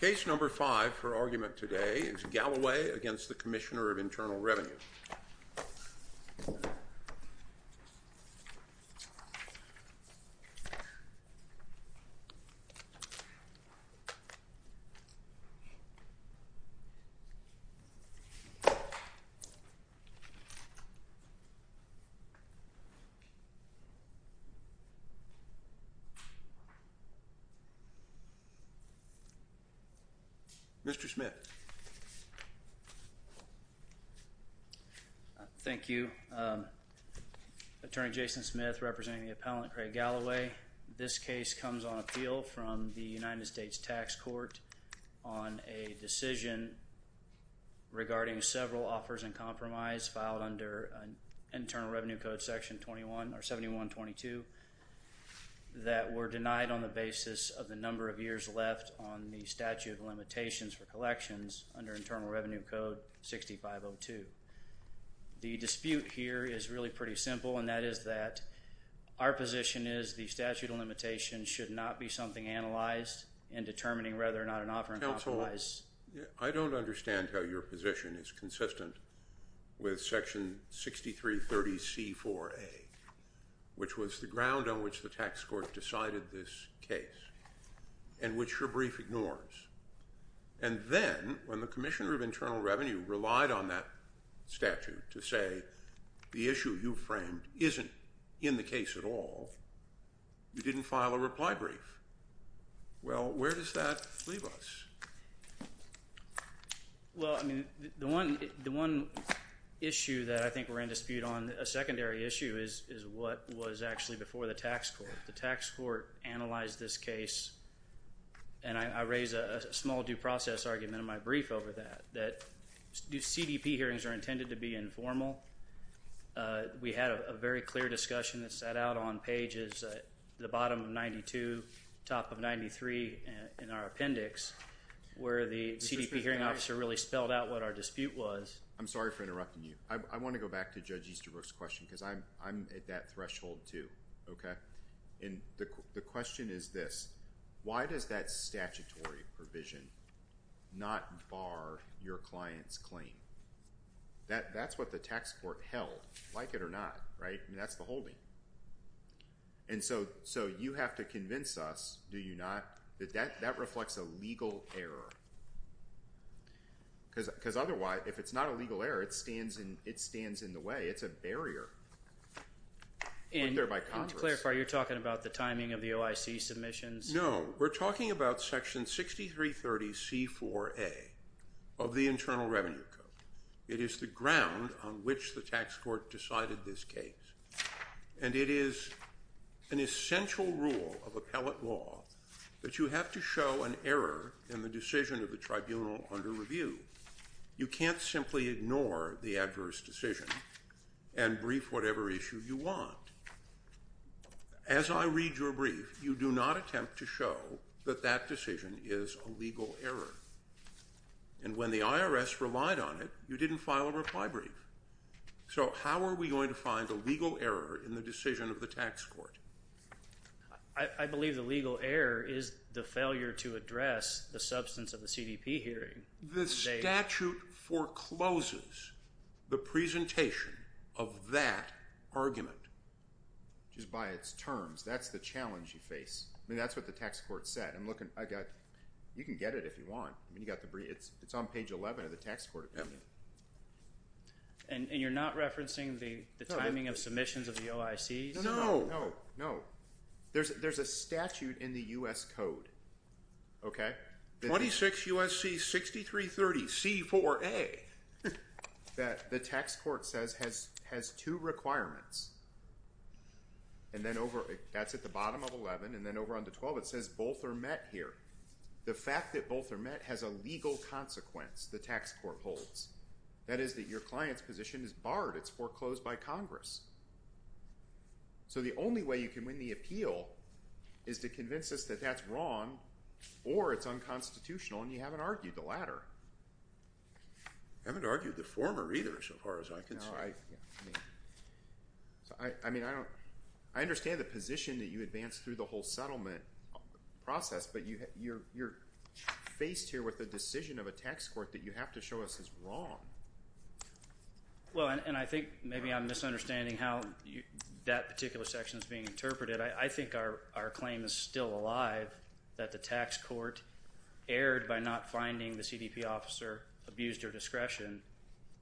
Case No. 5 for argument today is Galloway v. CIR. Mr. Smith. Thank you. Attorney Jason Smith representing the appellant Craig Galloway. This case comes on appeal from the United States Tax Court on a decision regarding several offers and compromise filed under Internal Revenue Code Section 71-22 that were denied on the basis of the number of years left on the statute of limitations for collections under Internal Revenue Code 65-02. The dispute here is really pretty simple and that is that our position is the statute of limitations should not be something analyzed in determining whether or not an offer and compromise. I don't understand how your position is consistent with Section 63-30C-4A which was the ground on which the tax court decided this case and which your brief ignores. And then when the Commissioner of Internal Revenue relied on that statute to say the issue you framed isn't in the case at all, you didn't file a reply brief. Well, where does that leave us? Well, I mean, the one issue that I think we're in dispute on, a secondary issue, is what was actually before the tax court. The tax court analyzed this case and I raise a small due process argument in my brief over that, that CDP hearings are intended to be informal. We had a very clear discussion that sat out on pages at the bottom of 92, top of 93 in our appendix where the CDP hearing officer really spelled out what our dispute was. I'm sorry for interrupting you. I want to go back to Judge Easterbrook's question because I'm at that threshold too, okay? And the question is this, why does that statutory provision not bar your client's claim? That's what the tax court held, like it or not, right? I mean, that's the holding. And so you have to convince us, do you not, that that reflects a legal error because otherwise, if it's not a legal error, it stands in the way. It's a barrier. Let me clarify, you're talking about the timing of the OIC submissions? No, we're talking about Section 6330C4A of the Internal Revenue Code. It is the ground on which the tax court decided this case. And it is an essential rule of appellate law that you have to show an error in the decision of the tribunal under review. You can't simply ignore the adverse decision and brief whatever issue you want. As I read your brief, you do not attempt to show that that decision is a legal error. And when the IRS relied on it, you didn't file a reply brief. So how are we going to find a legal error in the decision of the tax court? I believe the legal error is the failure to address the substance of the CDP hearing. The statute forecloses the presentation of that argument. Just by its terms. That's the challenge you face. I mean, that's what the tax court said. You can get it if you want. It's on page 11 of the tax court opinion. And you're not referencing the timing of submissions of the OICs? No, no. There's a statute in the U.S. Code. 26 U.S.C. 6330 C4A. That the tax court says has two requirements. And that's at the bottom of 11. And then over on to 12, it says both are met here. The fact that both are met has a legal consequence, the tax court holds. That is that your client's position is barred. It's foreclosed by Congress. So the only way you can win the appeal is to convince us that that's wrong or it's unconstitutional and you haven't argued the latter. I haven't argued the former either so far as I can see. No, I mean, I understand the position that you advanced through the whole settlement process, but you're faced here with a decision of a tax court that you have to show us is wrong. Well, and I think maybe I'm misunderstanding how that particular section is being interpreted. I think our claim is still alive that the tax court erred by not finding the CDP officer abused her discretion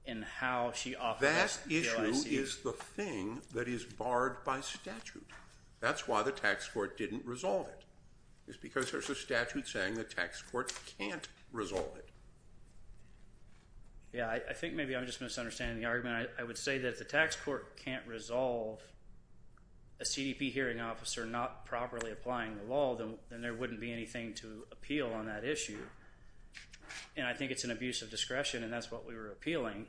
in how she offered that OIC. That issue is the thing that is barred by statute. That's why the tax court didn't resolve it. It's because there's a statute saying the tax court can't resolve it. Yeah, I think maybe I'm just misunderstanding the argument. I would say that if the tax court can't resolve a CDP hearing officer not properly applying the law, then there wouldn't be anything to appeal on that issue. And I think it's an abuse of discretion, and that's what we were appealing.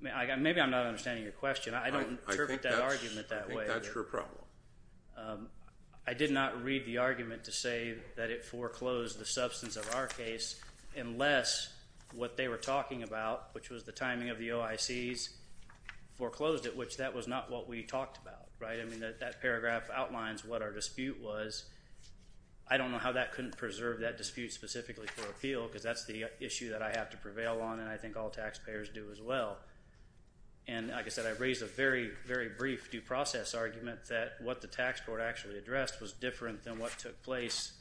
Maybe I'm not understanding your question. I don't interpret that argument that way. I think that's your problem. I did not read the argument to say that it foreclosed the substance of our case unless what they were talking about, which was the timing of the OICs, foreclosed it, which that was not what we talked about, right? I mean, that paragraph outlines what our dispute was. I don't know how that couldn't preserve that dispute specifically for appeal because that's the issue that I have to prevail on, and I think all taxpayers do as well. And like I said, I raised a very, very brief due process argument that what the tax court actually addressed was different than what took place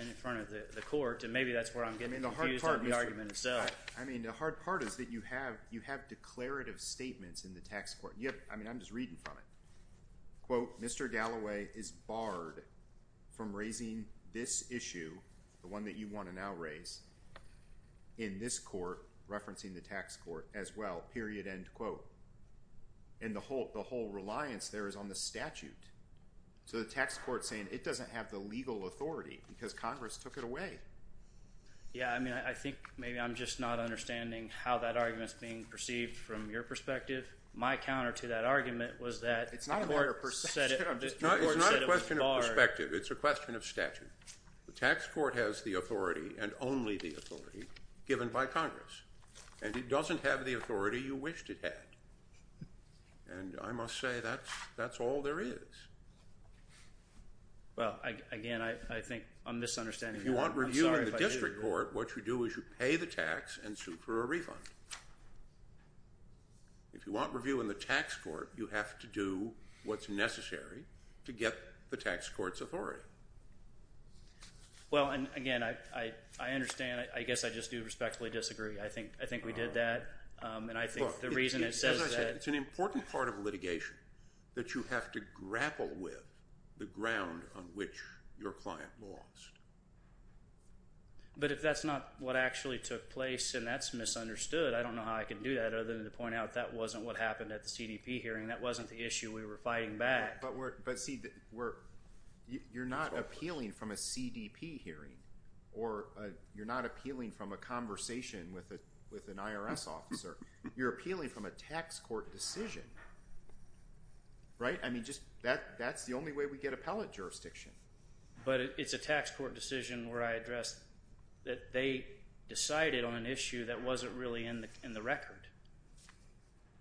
in front of the court, and maybe that's where I'm getting confused on the argument itself. I mean, the hard part is that you have declarative statements in the tax court. I mean, I'm just reading from it. Quote, Mr. Galloway is barred from raising this issue, the one that you want to now raise, in this court, referencing the tax court as well, period, end quote. And the whole reliance there is on the statute. So the tax court is saying it doesn't have the legal authority because Congress took it away. Yeah, I mean, I think maybe I'm just not understanding how that argument is being perceived from your perspective. My counter to that argument was that the court said it was barred. It's not a question of perspective. It's a question of statute. The tax court has the authority and only the authority given by Congress, and it doesn't have the authority you wished it had. And I must say that's all there is. Well, again, I think I'm misunderstanding. If you want review in the district court, what you do is you pay the tax and sue for a refund. If you want review in the tax court, you have to do what's necessary to get the tax court's authority. Well, and, again, I understand. I guess I just do respectfully disagree. I think we did that, and I think the reason it says that. Look, as I said, it's an important part of litigation that you have to grapple with the ground on which your client lost. But if that's not what actually took place and that's misunderstood, I don't know how I can do that other than to point out that wasn't what happened at the CDP hearing. That wasn't the issue we were fighting back. But, see, you're not appealing from a CDP hearing, or you're not appealing from a conversation with an IRS officer. You're appealing from a tax court decision, right? I mean, that's the only way we get appellate jurisdiction. But it's a tax court decision where I address that they decided on an issue that wasn't really in the record.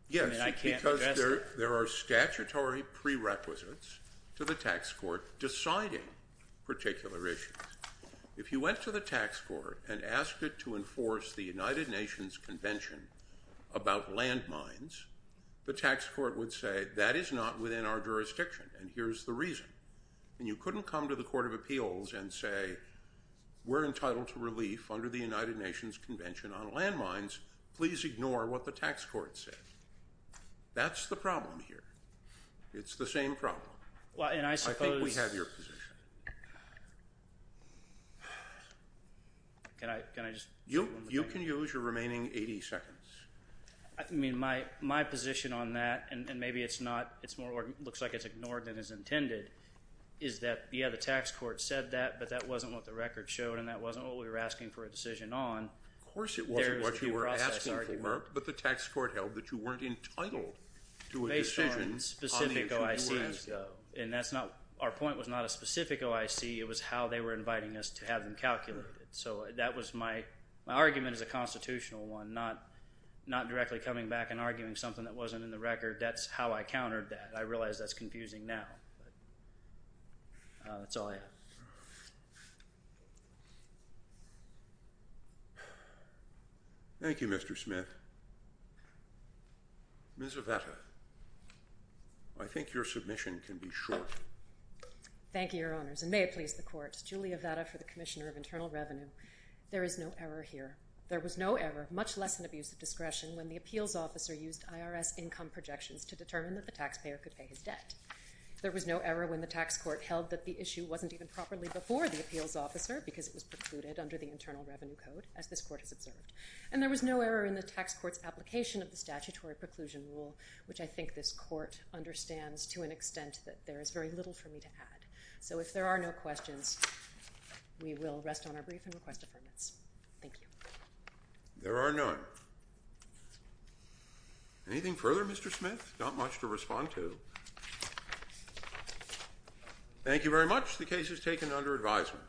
Yes, because there are statutory prerequisites to the tax court deciding particular issues. If you went to the tax court and asked it to enforce the United Nations Convention about landmines, the tax court would say that is not within our jurisdiction, and here's the reason. And you couldn't come to the Court of Appeals and say we're entitled to relief under the United Nations Convention on landmines. Please ignore what the tax court said. That's the problem here. It's the same problem. I think we have your position. You can use your remaining 80 seconds. I mean, my position on that, and maybe it's not, it looks like it's ignored than is intended, is that, yeah, the tax court said that, but that wasn't what the record showed, and that wasn't what we were asking for a decision on. Of course it wasn't what you were asking for, but the tax court held that you weren't entitled to a decision on the issue you were asked of. And that's not, our point was not a specific OIC. It was how they were inviting us to have them calculated. So that was my argument as a constitutional one, not directly coming back and arguing something that wasn't in the record. That's how I countered that. I realize that's confusing now, but that's all I have. Thank you, Mr. Smith. Ms. Avetta, I think your submission can be short. Thank you, Your Honors, and may it please the Court. Julia Avetta for the Commissioner of Internal Revenue. There is no error here. There was no error, much less an abuse of discretion, when the appeals officer used IRS income projections to determine that the taxpayer could pay his debt. There was no error when the tax court held that the issue wasn't even properly before the appeals officer, because it was precluded under the Internal Revenue Code, as this Court has observed. And there was no error in the tax court's application of the statutory preclusion rule, which I think this Court understands to an extent that there is very little for me to add. So if there are no questions, we will rest on our brief and request affirmance. Thank you. There are none. Anything further, Mr. Smith? Not much to respond to. Thank you very much. The case is taken under advisement.